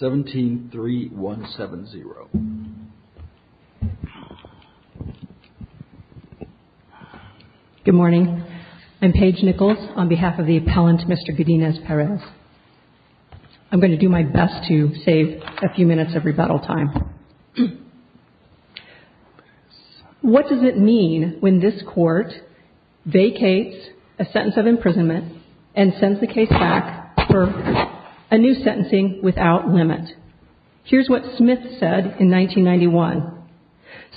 17-3-1-7-0. Good morning. I'm Paige Nichols on behalf of the appellant Mr. Godinez-Perez. I'm going to do my best to save a few minutes of rebuttal time. What does it mean when this court vacates a sentence of imprisonment and sends the case back for a new sentencing without limit? Here's what Smith said in 1991.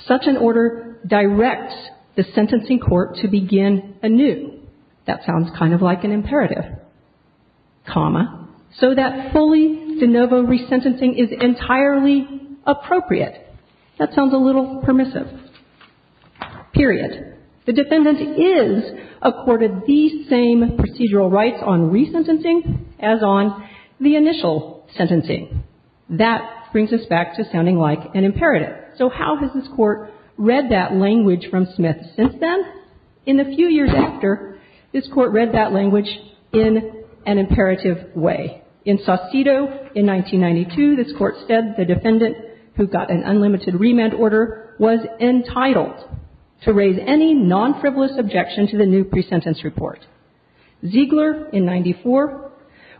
Such an order directs the sentencing court to begin anew. That sounds kind of like an imperative. Comma. So that fully de novo resentencing is entirely appropriate. That sounds a little permissive. Period. The defendant is accorded the same procedural rights on resentencing as on the initial sentencing. That brings us back to sounding like an imperative. So how has this court read that language from Smith since then? In the few years after, this court read that language in an imperative way. In Saucedo in 1992, this court said the defendant who got an unlimited remand order was entitled to raise any non-frivolous objection to the new pre-sentence report. Ziegler in 94,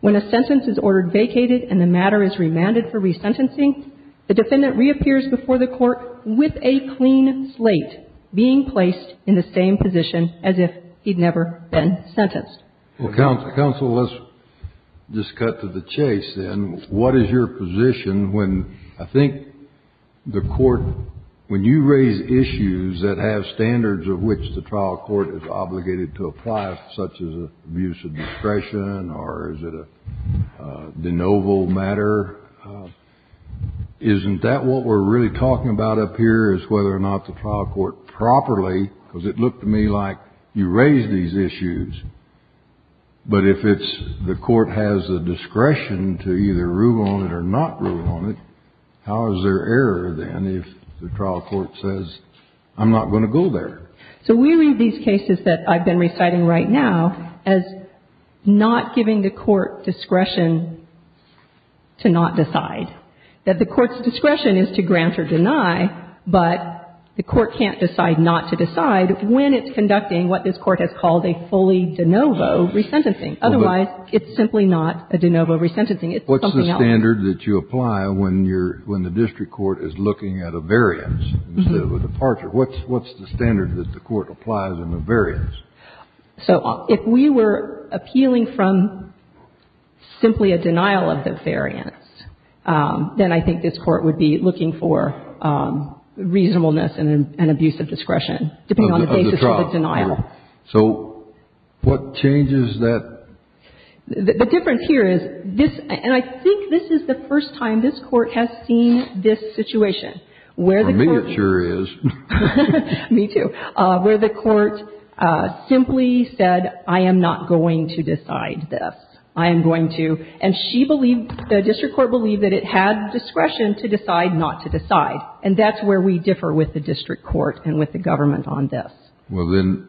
when a sentence is ordered vacated and the matter is remanded for resentencing, the defendant reappears before the court with a clean slate being placed in the same position as if he'd never been sentenced. Well, counsel, let's just cut to the chase, then. What is your position when I think the court, when you raise issues that have standards of which the trial court is obligated to apply, such as abuse of discretion or is it a de novo matter, isn't that what we're really talking about up here is whether or not the trial court properly, because it looked to me like you raised these issues, but if it's the court has the discretion to either rule on it or not rule on it, how is there error, then, if the trial court says, I'm not going to go there? So we read these cases that I've been reciting right now as not giving the court discretion to not decide, that the court's discretion is to grant or deny, but the court can't decide not to decide when it's conducting what this court has called a fully de novo resentencing. Otherwise, it's simply not a de novo resentencing. It's something else. What's the standard that you apply when the district court is looking at a variance instead of a departure? What's the standard that the court applies in a variance? So if we were appealing from simply a denial of the variance, then I think this court would be looking for reasonableness and abuse of discretion, depending on the basis of the denial. So what changes that? The difference here is this, and I think this is the first time this court has seen this situation, where the court. Well, me, it sure is. Me, too. Where the court simply said, I am not going to decide this. I am going to. And she believed, the district court believed that it had discretion to decide not to decide. And that's where we differ with the district court and with the government on this. Well, then,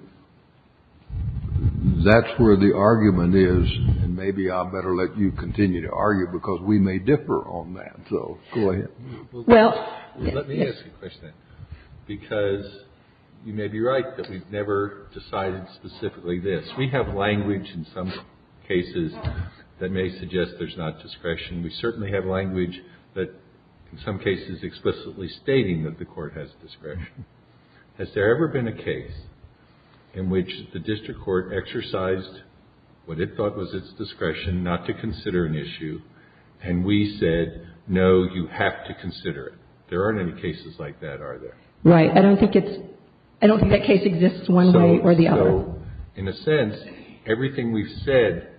that's where the argument is, and maybe I better let you continue to argue, because we may differ on that. So go ahead. Well. Let me ask you a question, because you may be right that we've never decided specifically this. We have language in some cases that may suggest there's not discretion. We certainly have language that in some cases explicitly stating that the court has discretion. Has there ever been a case in which the district court exercised what it thought was its discretion not to consider an issue, and we said, no, you have to consider it? There aren't any cases like that, are there? Right. I don't think that case exists one way or the other. So, in a sense, everything we've said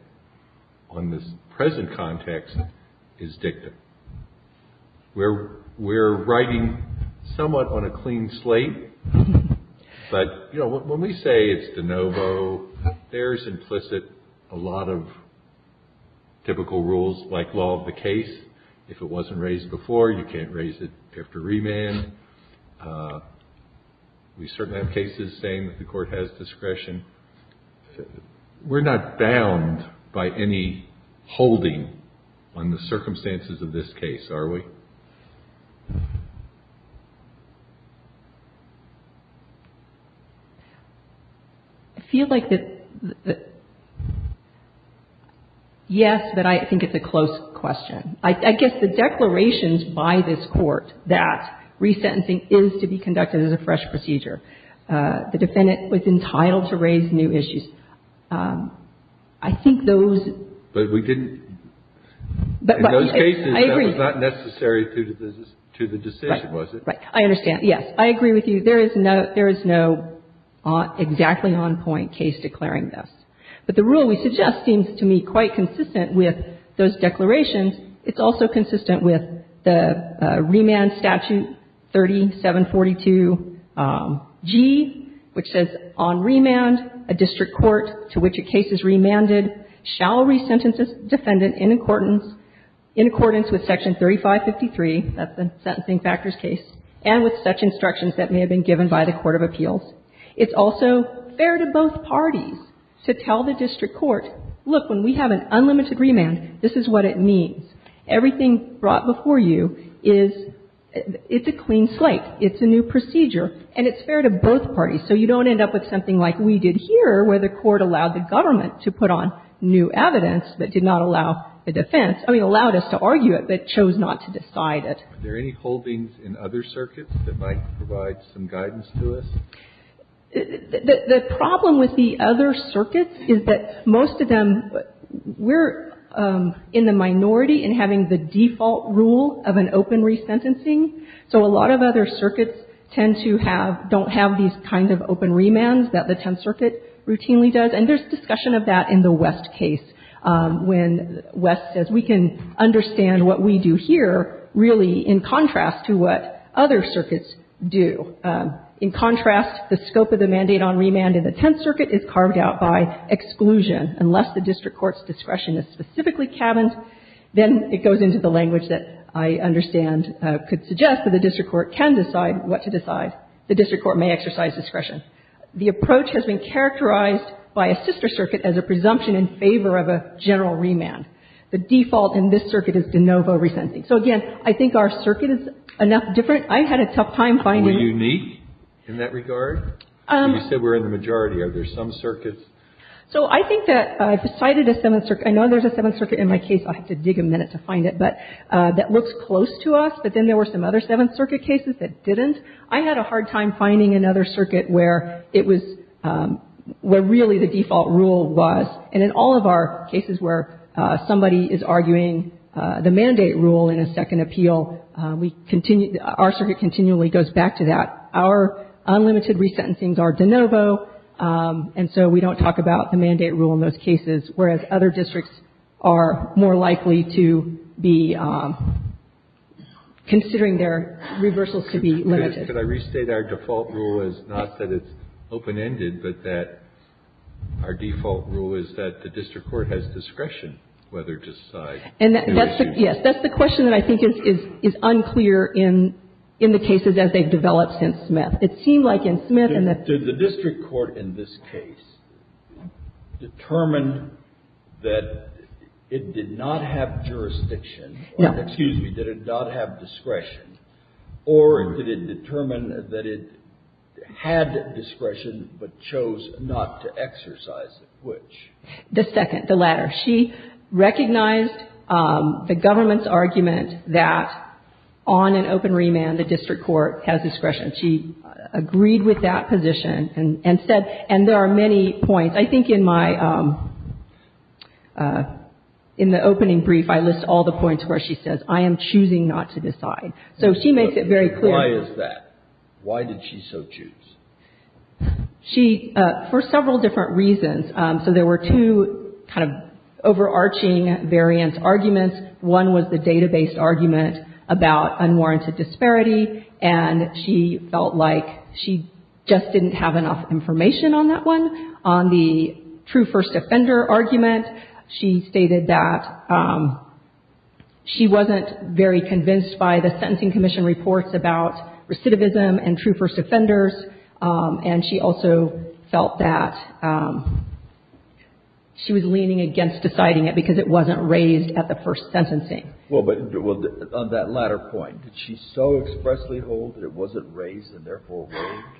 on this present context is dictum. We're writing somewhat on a clean slate. But, you know, when we say it's de novo, there's implicit a lot of typical rules like law of the case. If it wasn't raised before, you can't raise it after remand. We certainly have cases saying that the court has discretion. We're not bound by any holding on the circumstances of this case, are we? I feel like that, yes, that I think it's a close question. I guess the declarations by this Court that resentencing is to be conducted as a fresh procedure, the defendant was entitled to raise new issues. I think those. But we didn't. In those cases, that was not necessary to the decision, was it? Right. I understand. Yes. I agree with you. There is no exactly on point case declaring this. But the rule we suggest seems to me quite consistent with those declarations. It's also consistent with the remand statute 3742G, which says on remand, a district court to which a case is remanded shall resentence its defendant in accordance with section 3553, that's the sentencing factors case, and with such instructions that may have been given by the court of appeals. It's also fair to both parties to tell the district court, look, when we have an unlimited remand, this is what it means. Everything brought before you is, it's a clean slate. It's a new procedure. And it's fair to both parties. So you don't end up with something like we did here, where the court allowed the government to put on new evidence, but did not allow the defense. I mean, allowed us to argue it, but chose not to decide it. Are there any holdings in other circuits that might provide some guidance to us? The problem with the other circuits is that most of them, we're in the minority in having the default rule of an open resentencing. So a lot of other circuits tend to have, don't have these kinds of open remands that the Tenth Circuit routinely does, and there's discussion of that in the West case, when West says we can understand what we do here really in contrast to what other circuits do. In contrast, the scope of the mandate on remand in the Tenth Circuit is carved out by exclusion. Unless the district court's discretion is specifically cabined, then it goes into the language that I understand could suggest that the district court can decide what to decide. The district court may exercise discretion. The approach has been characterized by a sister circuit as a presumption in favor of a general remand. The default in this circuit is de novo resentencing. So, again, I think our circuit is enough different. I had a tough time finding one. And we're unique in that regard? You said we're in the majority. Are there some circuits? So I think that I've cited a Seventh Circuit. I know there's a Seventh Circuit in my case. I'll have to dig a minute to find it. But that looks close to us. But then there were some other Seventh Circuit cases that didn't. I had a hard time finding another circuit where it was, where really the default rule was. And in all of our cases where somebody is arguing the mandate rule in a second appeal, we continue, our circuit continually goes back to that. Our unlimited resentencings are de novo, and so we don't talk about the mandate rule in those cases, whereas other districts are more likely to be considering their reversals to be limited. Could I restate our default rule is not that it's open-ended, but that our default rule is that the district court has discretion whether to decide. And that's the, yes. That's the question that I think is unclear in the cases as they've developed since Smith. It seemed like in Smith and the Did the district court in this case determine that it did not have jurisdiction No. Excuse me. Did it not have discretion? Or did it determine that it had discretion but chose not to exercise it? Which? The second. The latter. She recognized the government's argument that on an open remand, the district court has discretion. She agreed with that position and said, and there are many points. I think in my, in the opening brief, I list all the points where she says I am choosing not to decide. So she makes it very clear. Why is that? Why did she so choose? She, for several different reasons. So there were two kind of overarching variance arguments. One was the data-based argument about unwarranted disparity. And she felt like she just didn't have enough information on that one. On the true first offender argument, she stated that she wasn't very convinced by the Sentencing Commission reports about recidivism and true first offenders. And she also felt that she was leaning against deciding it because it wasn't raised at the first sentencing. Well, but on that latter point, did she so expressly hold that it wasn't raised and therefore waived?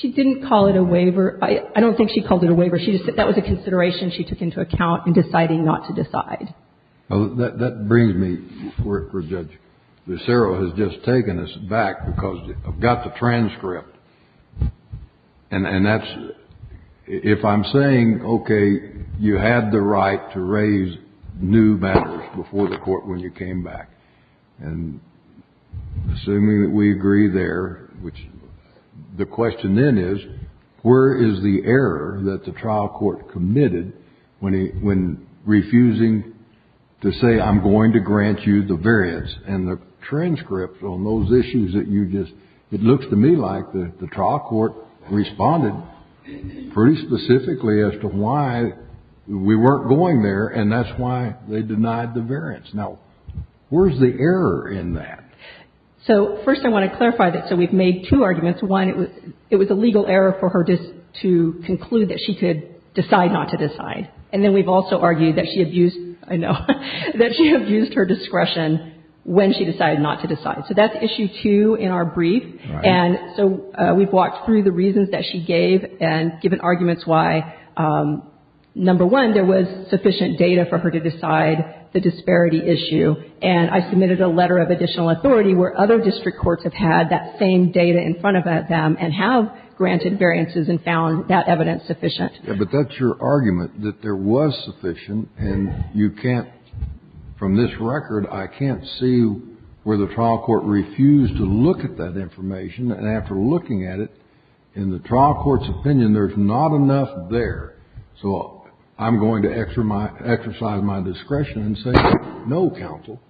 She didn't call it a waiver. I don't think she called it a waiver. She just said that was a consideration she took into account in deciding not to decide. Well, that brings me to where Judge Lucero has just taken us back because I've got the transcript. And that's if I'm saying, okay, you had the right to raise new matters before the court when you came back. And assuming that we agree there, which the question then is, where is the error that the trial court committed when refusing to say, I'm going to grant you the variance and the transcript on those issues that you just, it looks to me like the trial court responded pretty specifically as to why we weren't going there and that's why they denied the variance. Now, where's the error in that? So first I want to clarify that. So we've made two arguments. One, it was a legal error for her to conclude that she could decide not to decide. And then we've also argued that she abused, I know, that she abused her discretion when she decided not to decide. So that's issue two in our brief. And so we've walked through the reasons that she gave and given arguments why, number one, there was sufficient data for her to decide the disparity issue. And I submitted a letter of additional authority where other district courts have had that same data in front of them and have granted variances and found that evidence sufficient. Yeah, but that's your argument, that there was sufficient, and you can't, from this record, I can't see where the trial court refused to look at that information. And after looking at it, in the trial court's opinion, there's not enough there. So I'm going to exercise my discretion and say, no, counsel,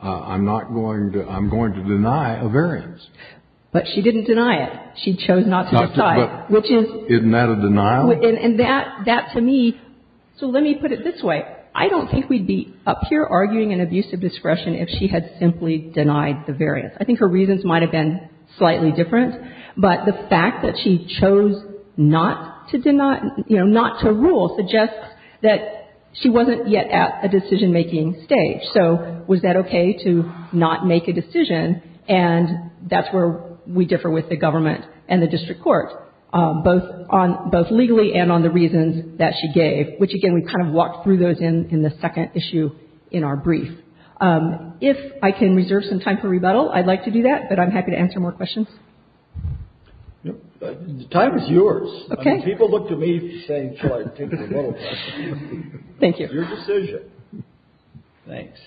I'm not going to, I'm going to deny a variance. But she didn't deny it. She chose not to decide. Isn't that a denial? And that, to me, so let me put it this way. I don't think we'd be up here arguing an abuse of discretion if she had simply denied the variance. I think her reasons might have been slightly different. But the fact that she chose not to deny, you know, not to rule suggests that she wasn't yet at a decision-making stage. So was that okay to not make a decision? And that's where we differ with the government and the district court, both legally and on the reasons that she gave, which, again, we kind of walked through those in the second issue in our brief. If I can reserve some time for rebuttal, I'd like to do that. But I'm happy to answer more questions. The time is yours. Okay. People look to me for saying, shall I take the rebuttal question. Thank you. It's your decision. Thanks.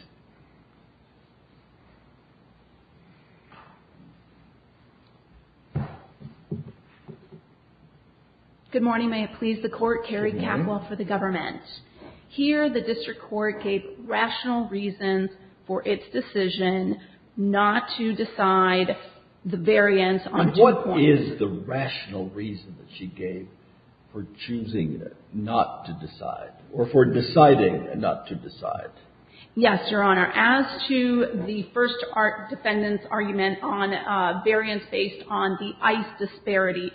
Good morning. May it please the Court. Carrie Capwell for the government. Here the district court gave rational reasons for its decision not to decide the variance on two points. And what is the rational reason that she gave for choosing not to decide, or for deciding not to decide? Yes, Your Honor. As to the first defendant's argument on variance based on the ICE disparity,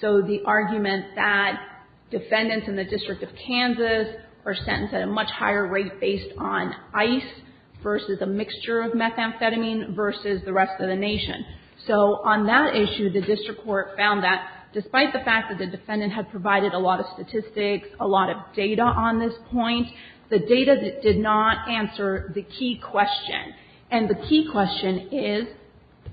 so the argument that defendants in the District of Kansas are sentenced at a much higher rate based on ICE versus a mixture of methamphetamine versus the rest of the nation. So on that issue, the district court found that despite the fact that the defendant had provided a lot of statistics, a lot of data on this point, the data did not answer the key question. And the key question is,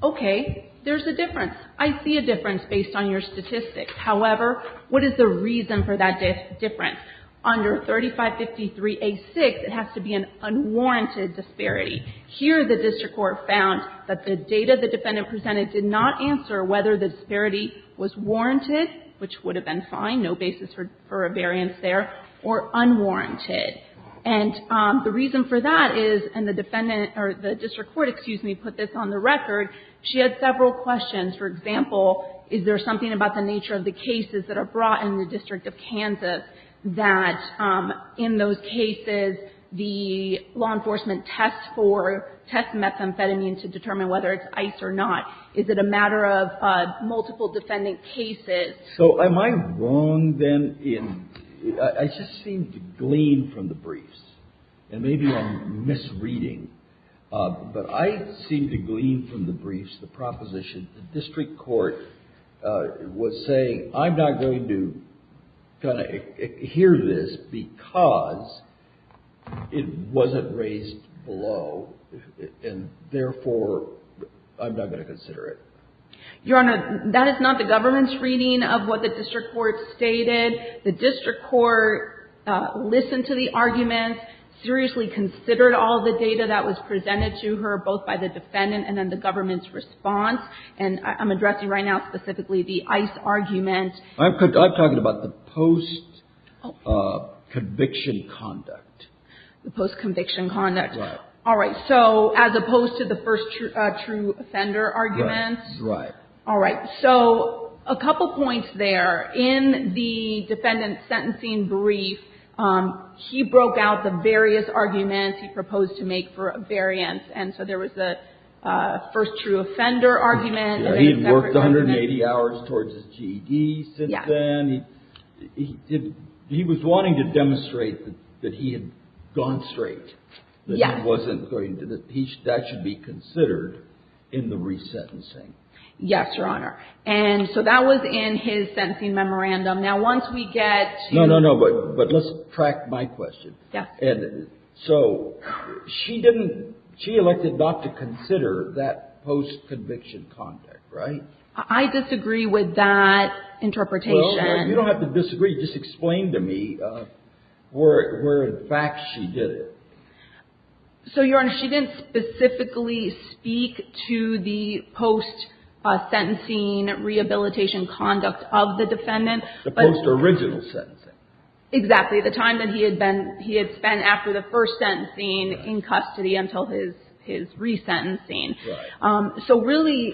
okay, there's a difference. I see a difference based on your statistics. However, what is the reason for that difference? Under 3553A6, it has to be an unwarranted disparity. Here the district court found that the data the defendant presented did not answer whether the disparity was warranted, which would have been fine, no basis for a variance there, or unwarranted. And the reason for that is, and the defendant, or the district court, excuse me, put this on the record, she had several questions. For example, is there something about the nature of the cases that are brought in the District of Kansas that in those cases the law enforcement tests for, tests methamphetamine to determine whether it's ICE or not? Is it a matter of multiple defendant cases? So am I wrong, then, in, I just seem to glean from the briefs, and maybe I'm misreading, but I seem to glean from the briefs the proposition the district court was saying, I'm not going to hear this because it wasn't raised below, and therefore, I'm not going to consider it. Your Honor, that is not the government's reading of what the district court stated. The district court listened to the argument, seriously considered all the data that was presented to her, both by the defendant and then the government's response. And I'm addressing right now specifically the ICE argument. I'm talking about the post-conviction conduct. The post-conviction conduct. Right. All right. So as opposed to the first true offender argument. Right. All right. So a couple points there. In the defendant's sentencing brief, he broke out the various arguments he proposed to make for a variance. And so there was the first true offender argument. He had worked 180 hours towards his GED since then. Yes. He did, he was wanting to demonstrate that he had gone straight. Yes. That he wasn't going to, that should be considered in the resentencing. Yes, Your Honor. And so that was in his sentencing memorandum. Now, once we get to. No, no, no. But let's track my question. Yes. So she didn't, she elected not to consider that post-conviction conduct, right? I disagree with that interpretation. You don't have to disagree. Just explain to me where in fact she did it. So, Your Honor, she didn't specifically speak to the post-sentencing rehabilitation conduct of the defendant. The post-original sentencing. Exactly. The time that he had been, he had spent after the first sentencing in custody until his resentencing. Right. So really,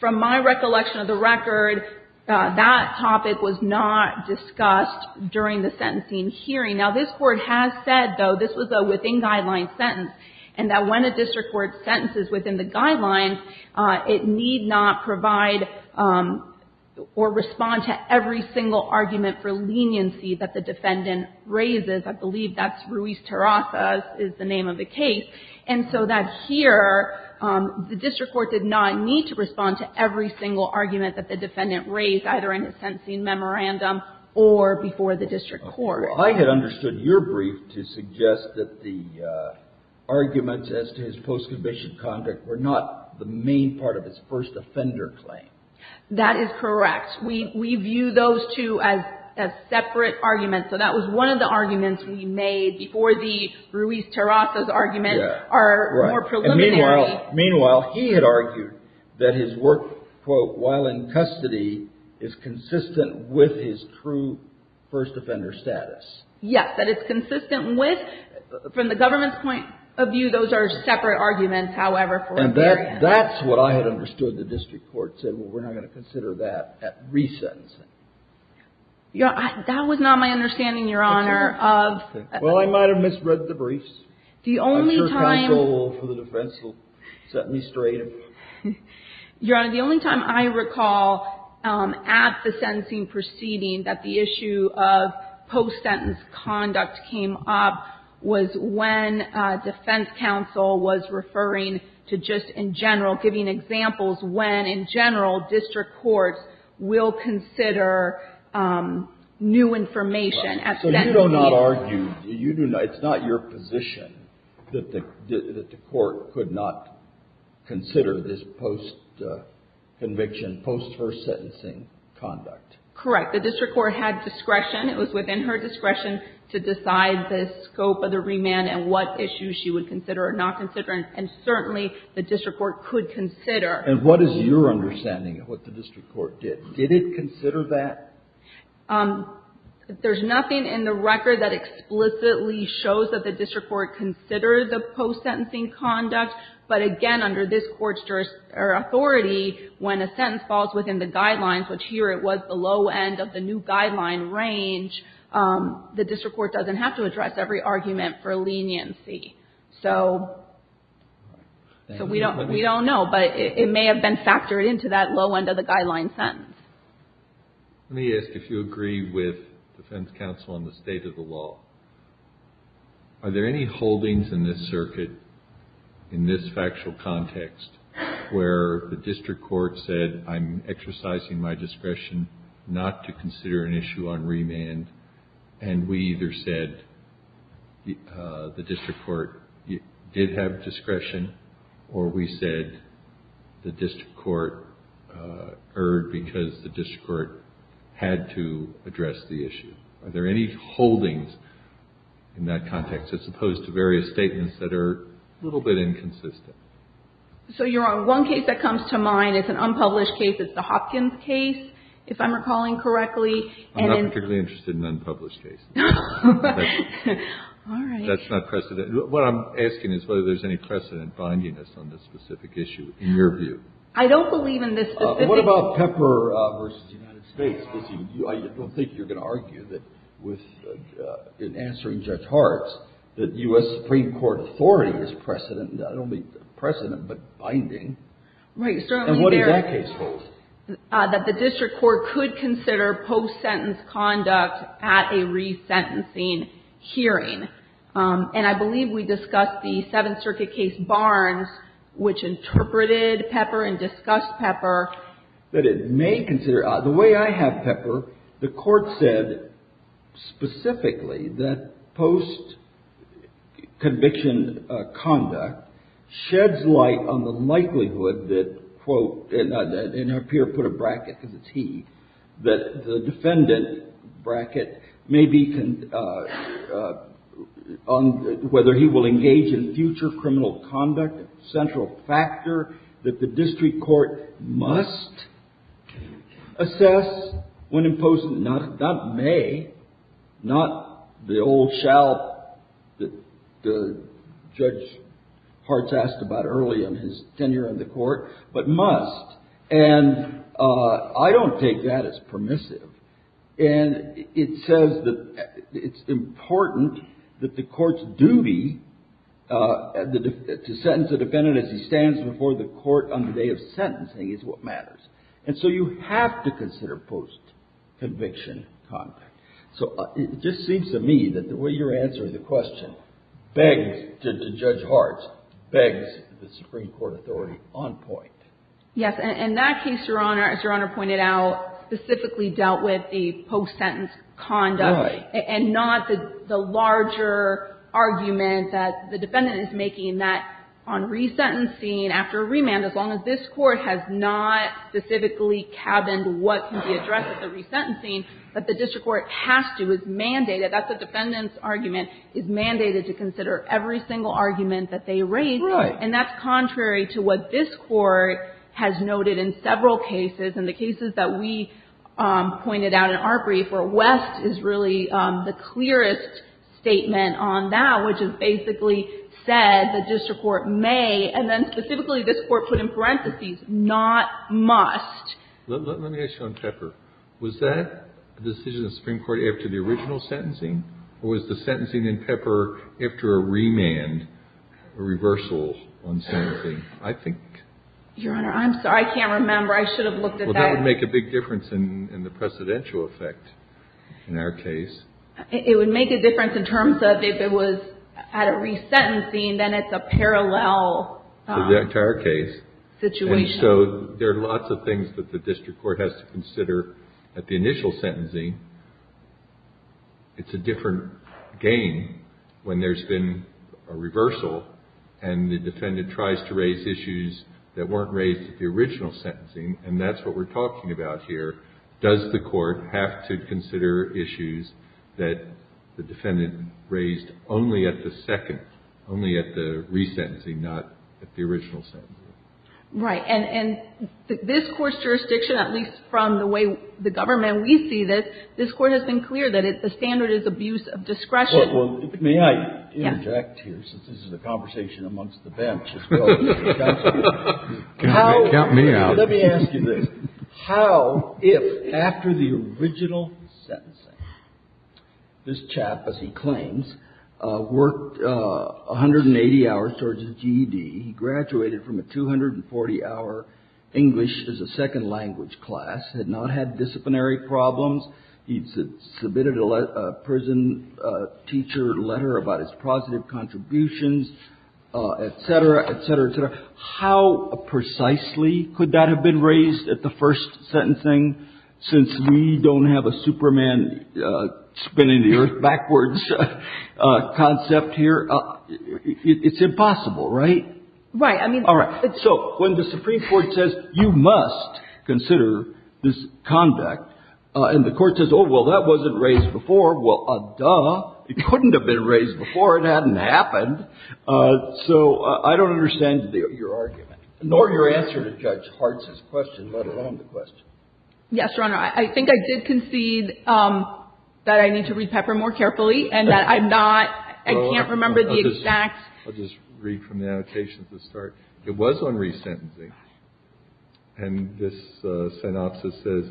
from my recollection of the record, that topic was not discussed during the sentencing hearing. Now, this Court has said, though, this was a within-guideline sentence, and that when a district court sentences within the guidelines, it need not provide or respond to every single argument for leniency that the defendant raises. I believe that's Ruiz-Terasa is the name of the case. And so that here, the district court did not need to respond to every single argument that the defendant raised, either in his sentencing memorandum or before the district court. Your Honor, I had understood your brief to suggest that the arguments as to his post-conviction conduct were not the main part of his first offender claim. That is correct. We view those two as separate arguments. So that was one of the arguments we made before the Ruiz-Terasa's argument are more preliminary. Meanwhile, he had argued that his work, quote, while in custody is consistent with his true first offender status. Yes. That it's consistent with, from the government's point of view, those are separate arguments. However, for a variance. And that's what I had understood the district court said, well, we're not going to consider that at resentencing. That was not my understanding, Your Honor. Well, I might have misread the briefs. I'm sure counsel for the defense will set me straight. Your Honor, the only time I recall at the sentencing proceeding that the issue of post-sentence conduct came up was when defense counsel was referring to just in general, giving examples when in general district courts will consider new information at sentencing. You do not argue, it's not your position that the court could not consider this post-conviction, post-first sentencing conduct. Correct. The district court had discretion. It was within her discretion to decide the scope of the remand and what issues she would consider or not consider. And certainly the district court could consider. And what is your understanding of what the district court did? Did it consider that? There's nothing in the record that explicitly shows that the district court considered the post-sentencing conduct. But again, under this Court's authority, when a sentence falls within the guidelines, which here it was the low end of the new guideline range, the district court doesn't have to address every argument for leniency. So we don't know. But it may have been factored into that low end of the guideline sentence. Let me ask if you agree with defense counsel on the state of the law. Are there any holdings in this circuit, in this factual context, where the district court said, I'm exercising my discretion not to consider an issue on remand, and we either said the district court did have to address the issue? Are there any holdings in that context, as opposed to various statements that are a little bit inconsistent? So you're on one case that comes to mind. It's an unpublished case. It's the Hopkins case, if I'm recalling correctly. I'm not particularly interested in unpublished cases. All right. That's not precedent. What I'm asking is whether there's any precedent binding us on this specific issue, in your view. I don't believe in this specific issue. What about Pepper v. United States? I don't think you're going to argue that, in answering Judge Hart's, that U.S. Supreme Court authority is precedent. I don't mean precedent, but binding. Right. And what does that case hold? That the district court could consider post-sentence conduct at a resentencing hearing. And I believe we discussed the Seventh Circuit case Barnes, which interpreted Pepper and discussed Pepper. That it may consider. The way I have Pepper, the court said specifically that post-conviction conduct sheds light on the likelihood that, quote, And her peer put a bracket because it's he. That the defendant, bracket, may be on whether he will engage in future criminal conduct, central factor that the district court must assess when imposed. Not may, not the old shall that Judge Hart's asked about early in his tenure in the court, but must. And I don't take that as permissive. And it says that it's important that the court's duty to sentence a defendant as he stands before the court on the day of sentencing is what matters. And so you have to consider post-conviction conduct. So it just seems to me that the way you're answering the question begs, Judge Hart, begs the Supreme Court authority on point. Yes. And that case, Your Honor, as Your Honor pointed out, specifically dealt with the post-sentence conduct. Right. And not the larger argument that the defendant is making that on resentencing, after a remand, as long as this court has not specifically cabined what can be addressed at the resentencing, that the district court has to, is mandated. That's a defendant's argument, is mandated to consider every single argument that they raise. Right. And that's contrary to what this court has noted in several cases. In the cases that we pointed out in our brief, where West is really the clearest statement on that, which is basically said the district court may, and then specifically this court put in parentheses, not must. Let me ask you on Pepper. Was that a decision of the Supreme Court after the original sentencing? Or was the sentencing in Pepper after a remand, a reversal on sentencing? I think. Your Honor, I'm sorry. I can't remember. I should have looked at that. Well, that would make a big difference in the precedential effect in our case. It would make a difference in terms of if it was at a resentencing, then it's a parallel situation. To the entire case. And so there are lots of things that the district court has to consider at the initial sentencing. It's a different game when there's been a reversal, and the defendant tries to raise issues that weren't raised at the original sentencing. And that's what we're talking about here. Does the court have to consider issues that the defendant raised only at the second, only at the resentencing, not at the original sentencing? Right. And this Court's jurisdiction, at least from the way the government, we see this, this Court has been clear that the standard is abuse of discretion. Well, may I interject here since this is a conversation amongst the bench as well? Count me out. Let me ask you this. How, if after the original sentencing, this chap, as he claims, worked 180 hours towards his GED, graduated from a 240-hour English as a second language class, had not had disciplinary problems, he submitted a prison teacher letter about his positive contributions, et cetera, et cetera, et cetera, how precisely could that have been raised at the first sentencing, since we don't have a Superman spinning the earth backwards concept here? It's impossible, right? Right. I mean... All right. So when the Supreme Court says you must consider this conduct, and the Court says, oh, well, that wasn't raised before, well, duh, it couldn't have been raised before. It hadn't happened. So I don't understand your argument, nor your answer to Judge Hartz's question, let alone the question. Yes, Your Honor. I think I did concede that I need to read Pepper more carefully and that I'm not, I can't remember the exact... I'll just read from the annotation to start. It was on resentencing. And this synopsis says,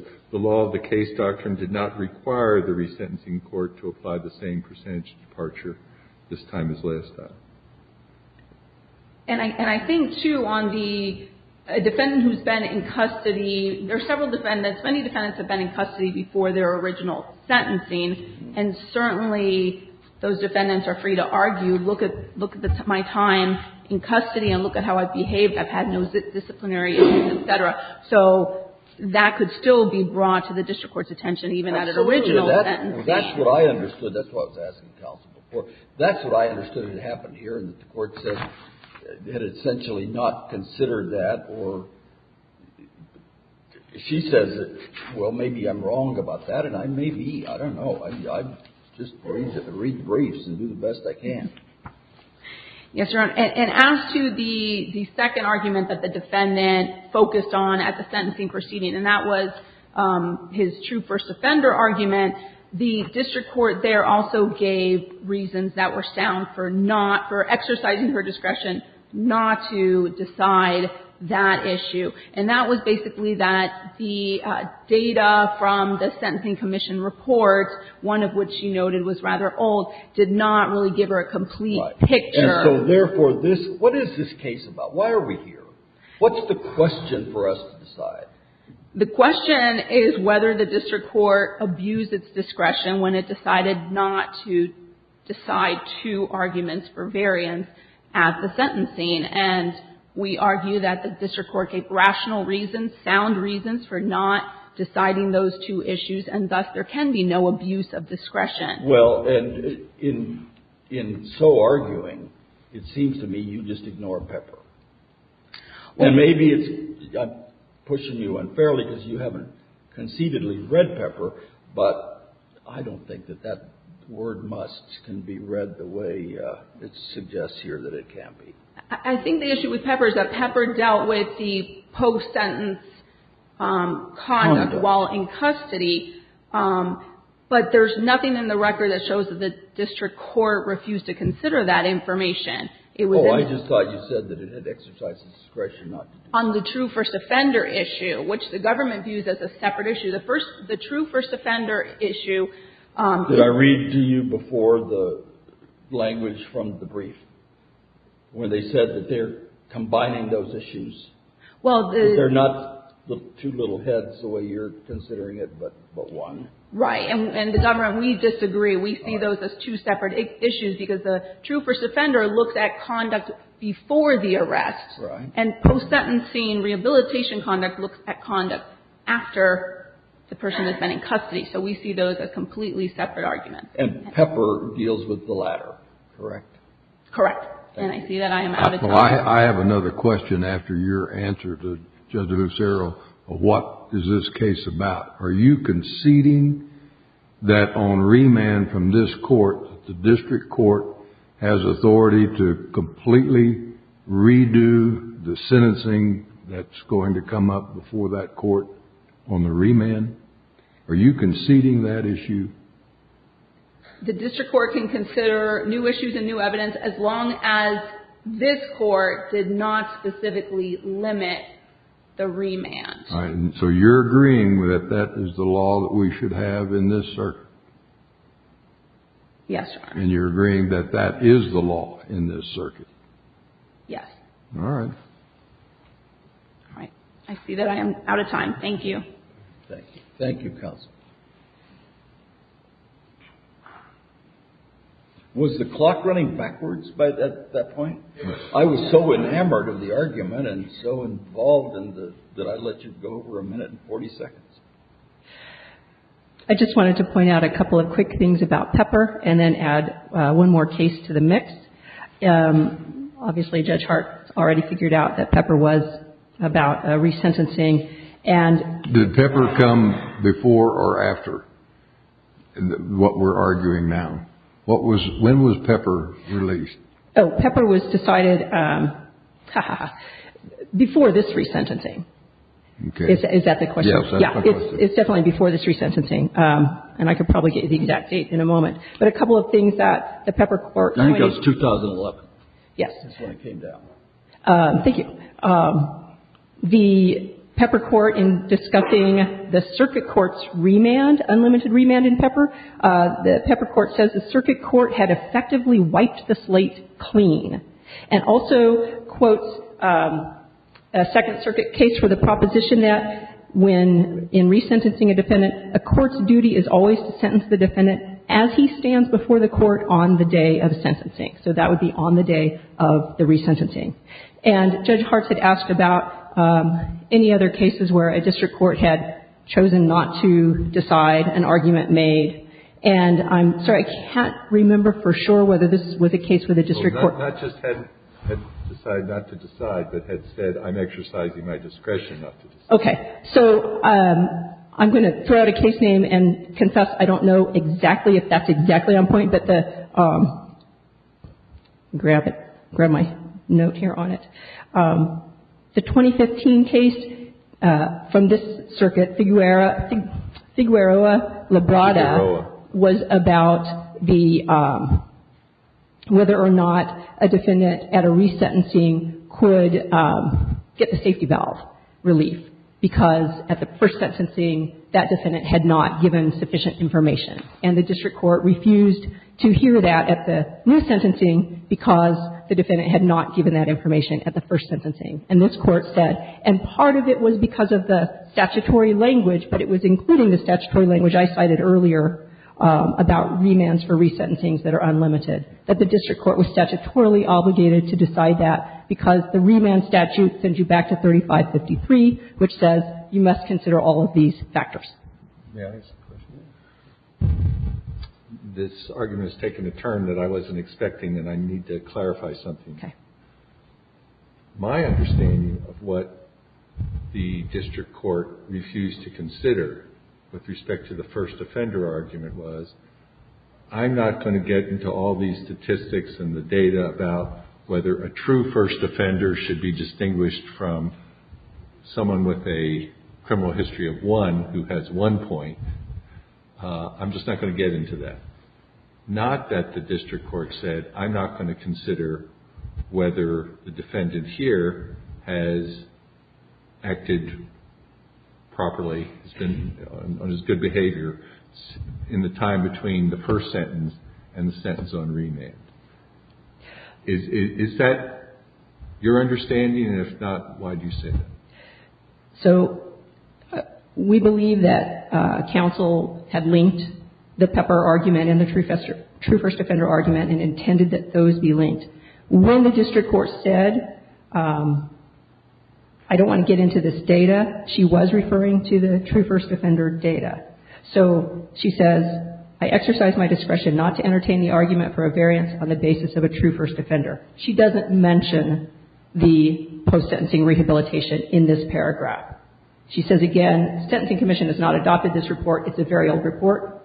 And I think, too, on the defendant who's been in custody, there are several defendants. Many defendants have been in custody before their original sentencing, and certainly those defendants are free to argue. Look at my time in custody and look at how I've behaved. I've had no disciplinary intent, et cetera. So that could still be brought to the district court's attention, even at an original sentencing. Absolutely. That's what I understood. That's why I was asking counsel before. That's what I understood had happened here, and that the Court said it had essentially not considered that. Or she says, well, maybe I'm wrong about that, and I may be. I don't know. I just read briefs and do the best I can. Yes, Your Honor. And as to the second argument that the defendant focused on at the sentencing proceeding, and that was his true first offender argument, the district court there also gave reasons that were sound for not, for exercising her discretion not to decide that issue. And that was basically that the data from the Sentencing Commission report, one of which she noted was rather old, did not really give her a complete picture. And so, therefore, this, what is this case about? Why are we here? What's the question for us to decide? The question is whether the district court abused its discretion when it decided not to decide two arguments for variance at the sentencing. And we argue that the district court gave rational reasons, sound reasons for not deciding Well, and in so arguing, it seems to me you just ignore Pepper. And maybe it's, I'm pushing you unfairly because you haven't conceitedly read Pepper, but I don't think that that word must can be read the way it suggests here that it can't be. I think the issue with Pepper is that Pepper dealt with the post-sentence conduct while in custody, but there's nothing in the record that shows that the district court refused to consider that information. It was Oh, I just thought you said that it had exercised its discretion not to do that. On the true first offender issue, which the government views as a separate issue. The first, the true first offender issue Did I read to you before the language from the brief when they said that they're combining those issues? Well, the They're not two little heads the way you're considering it, but one. Right. And the government, we disagree. We see those as two separate issues because the true first offender looks at conduct before the arrest. Right. And post-sentencing rehabilitation conduct looks at conduct after the person has been in custody. So we see those as completely separate arguments. And Pepper deals with the latter. Correct. Correct. And I see that I am out of time. I have another question after your answer to Judge Lucero. What is this case about? Are you conceding that on remand from this court, the district court has authority to completely redo the sentencing that's going to come up before that court on the remand? Are you conceding that issue? The district court can consider new issues and new evidence as long as this court did not specifically limit the remand. All right. So you're agreeing that that is the law that we should have in this circuit? Yes, Your Honor. And you're agreeing that that is the law in this circuit? Yes. All right. All right. I see that I am out of time. Thank you. Thank you. Thank you, counsel. Was the clock running backwards at that point? I was so enamored of the argument and so involved that I let you go over a minute and 40 seconds. I just wanted to point out a couple of quick things about Pepper and then add one more case to the mix. Obviously, Judge Hart already figured out that Pepper was about resentencing. Did Pepper come before or after what we're arguing now? When was Pepper released? Pepper was decided before this resentencing. Okay. Is that the question? Yes, that's the question. It's definitely before this resentencing. And I could probably get you the exact date in a moment. But a couple of things that the Pepper court. I think it was 2011. Yes. That's when it came down. Thank you. The Pepper court in discussing the circuit court's remand, unlimited remand in Pepper, the Pepper court says the circuit court had effectively wiped the slate clean. And also quotes a Second Circuit case for the proposition that when in resentencing a defendant, a court's duty is always to sentence the defendant as he stands before the court on the day of sentencing. So that would be on the day of the resentencing. And Judge Hart had asked about any other cases where a district court had chosen not to decide, an argument made. And I'm sorry, I can't remember for sure whether this was a case where the district court. Not just had decided not to decide, but had said, I'm exercising my discretion not to decide. Okay. So I'm going to throw out a case name and confess. I don't know exactly if that's exactly on point. But the, grab it. Grab my note here on it. The 2015 case from this circuit, Figueroa-Labrada, was about the, whether or not a defendant at a resentencing could get the safety valve relief. Because at the first sentencing, that defendant had not given sufficient information. And the district court refused to hear that at the new sentencing because the defendant had not given that information at the first sentencing. And this Court said, and part of it was because of the statutory language, but it was including the statutory language I cited earlier about remands for resentencings that are unlimited, that the district court was statutorily obligated to decide that because the remand statute sends you back to 3553, which says you must consider all of these factors. May I ask a question? This argument has taken a turn that I wasn't expecting, and I need to clarify something. Okay. My understanding of what the district court refused to consider with respect to the first offender argument was, I'm not going to get into all these statistics and the data about whether a true first offender should be distinguished from someone with a criminal history of one who has one point. I'm just not going to get into that. Not that the district court said, I'm not going to consider whether the defendant here has acted properly, has been on his good behavior in the time between the first sentence and the sentence on remand. Is that your understanding, and if not, why do you say that? So, we believe that counsel had linked the Pepper argument and the true first offender argument and intended that those be linked. When the district court said, I don't want to get into this data, she was referring to the true first offender data. So, she says, I exercise my discretion not to entertain the argument for a variance on the basis of a true first offender. She doesn't mention the post-sentencing rehabilitation in this paragraph. She says again, the Sentencing Commission has not adopted this report. It's a very old report.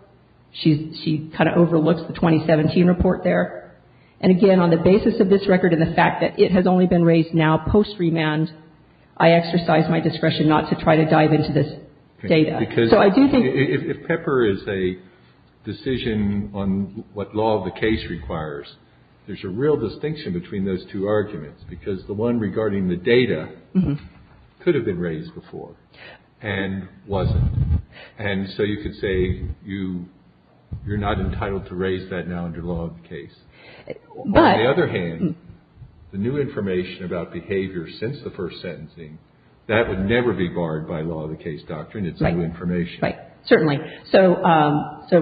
She kind of overlooks the 2017 report there. And again, on the basis of this record and the fact that it has only been raised now post-remand, I exercise my discretion not to try to dive into this data. Because if Pepper is a decision on what law of the case requires, there's a real distinction between those two arguments, because the one regarding the data could have been raised before and wasn't. And so you could say you're not entitled to raise that now under law of the case. On the other hand, the new information about behavior since the first sentencing, that would never be barred by law of the case doctrine. It's new information. Right. Certainly. So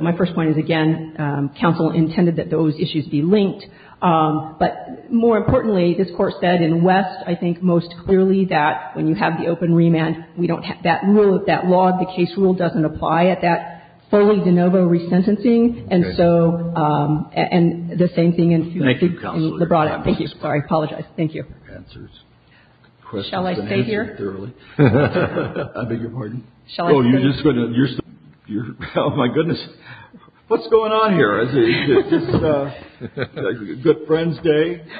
my first point is, again, counsel intended that those issues be linked. But more importantly, this Court said in West, I think, most clearly that when you have the open remand, we don't have that rule, that law of the case rule doesn't apply at that fully de novo resentencing. And so, and the same thing in Lebrada. Thank you. Thank you. Shall I stay here? I beg your pardon. Shall I stay? Oh, my goodness. What's going on here? Good friend's day.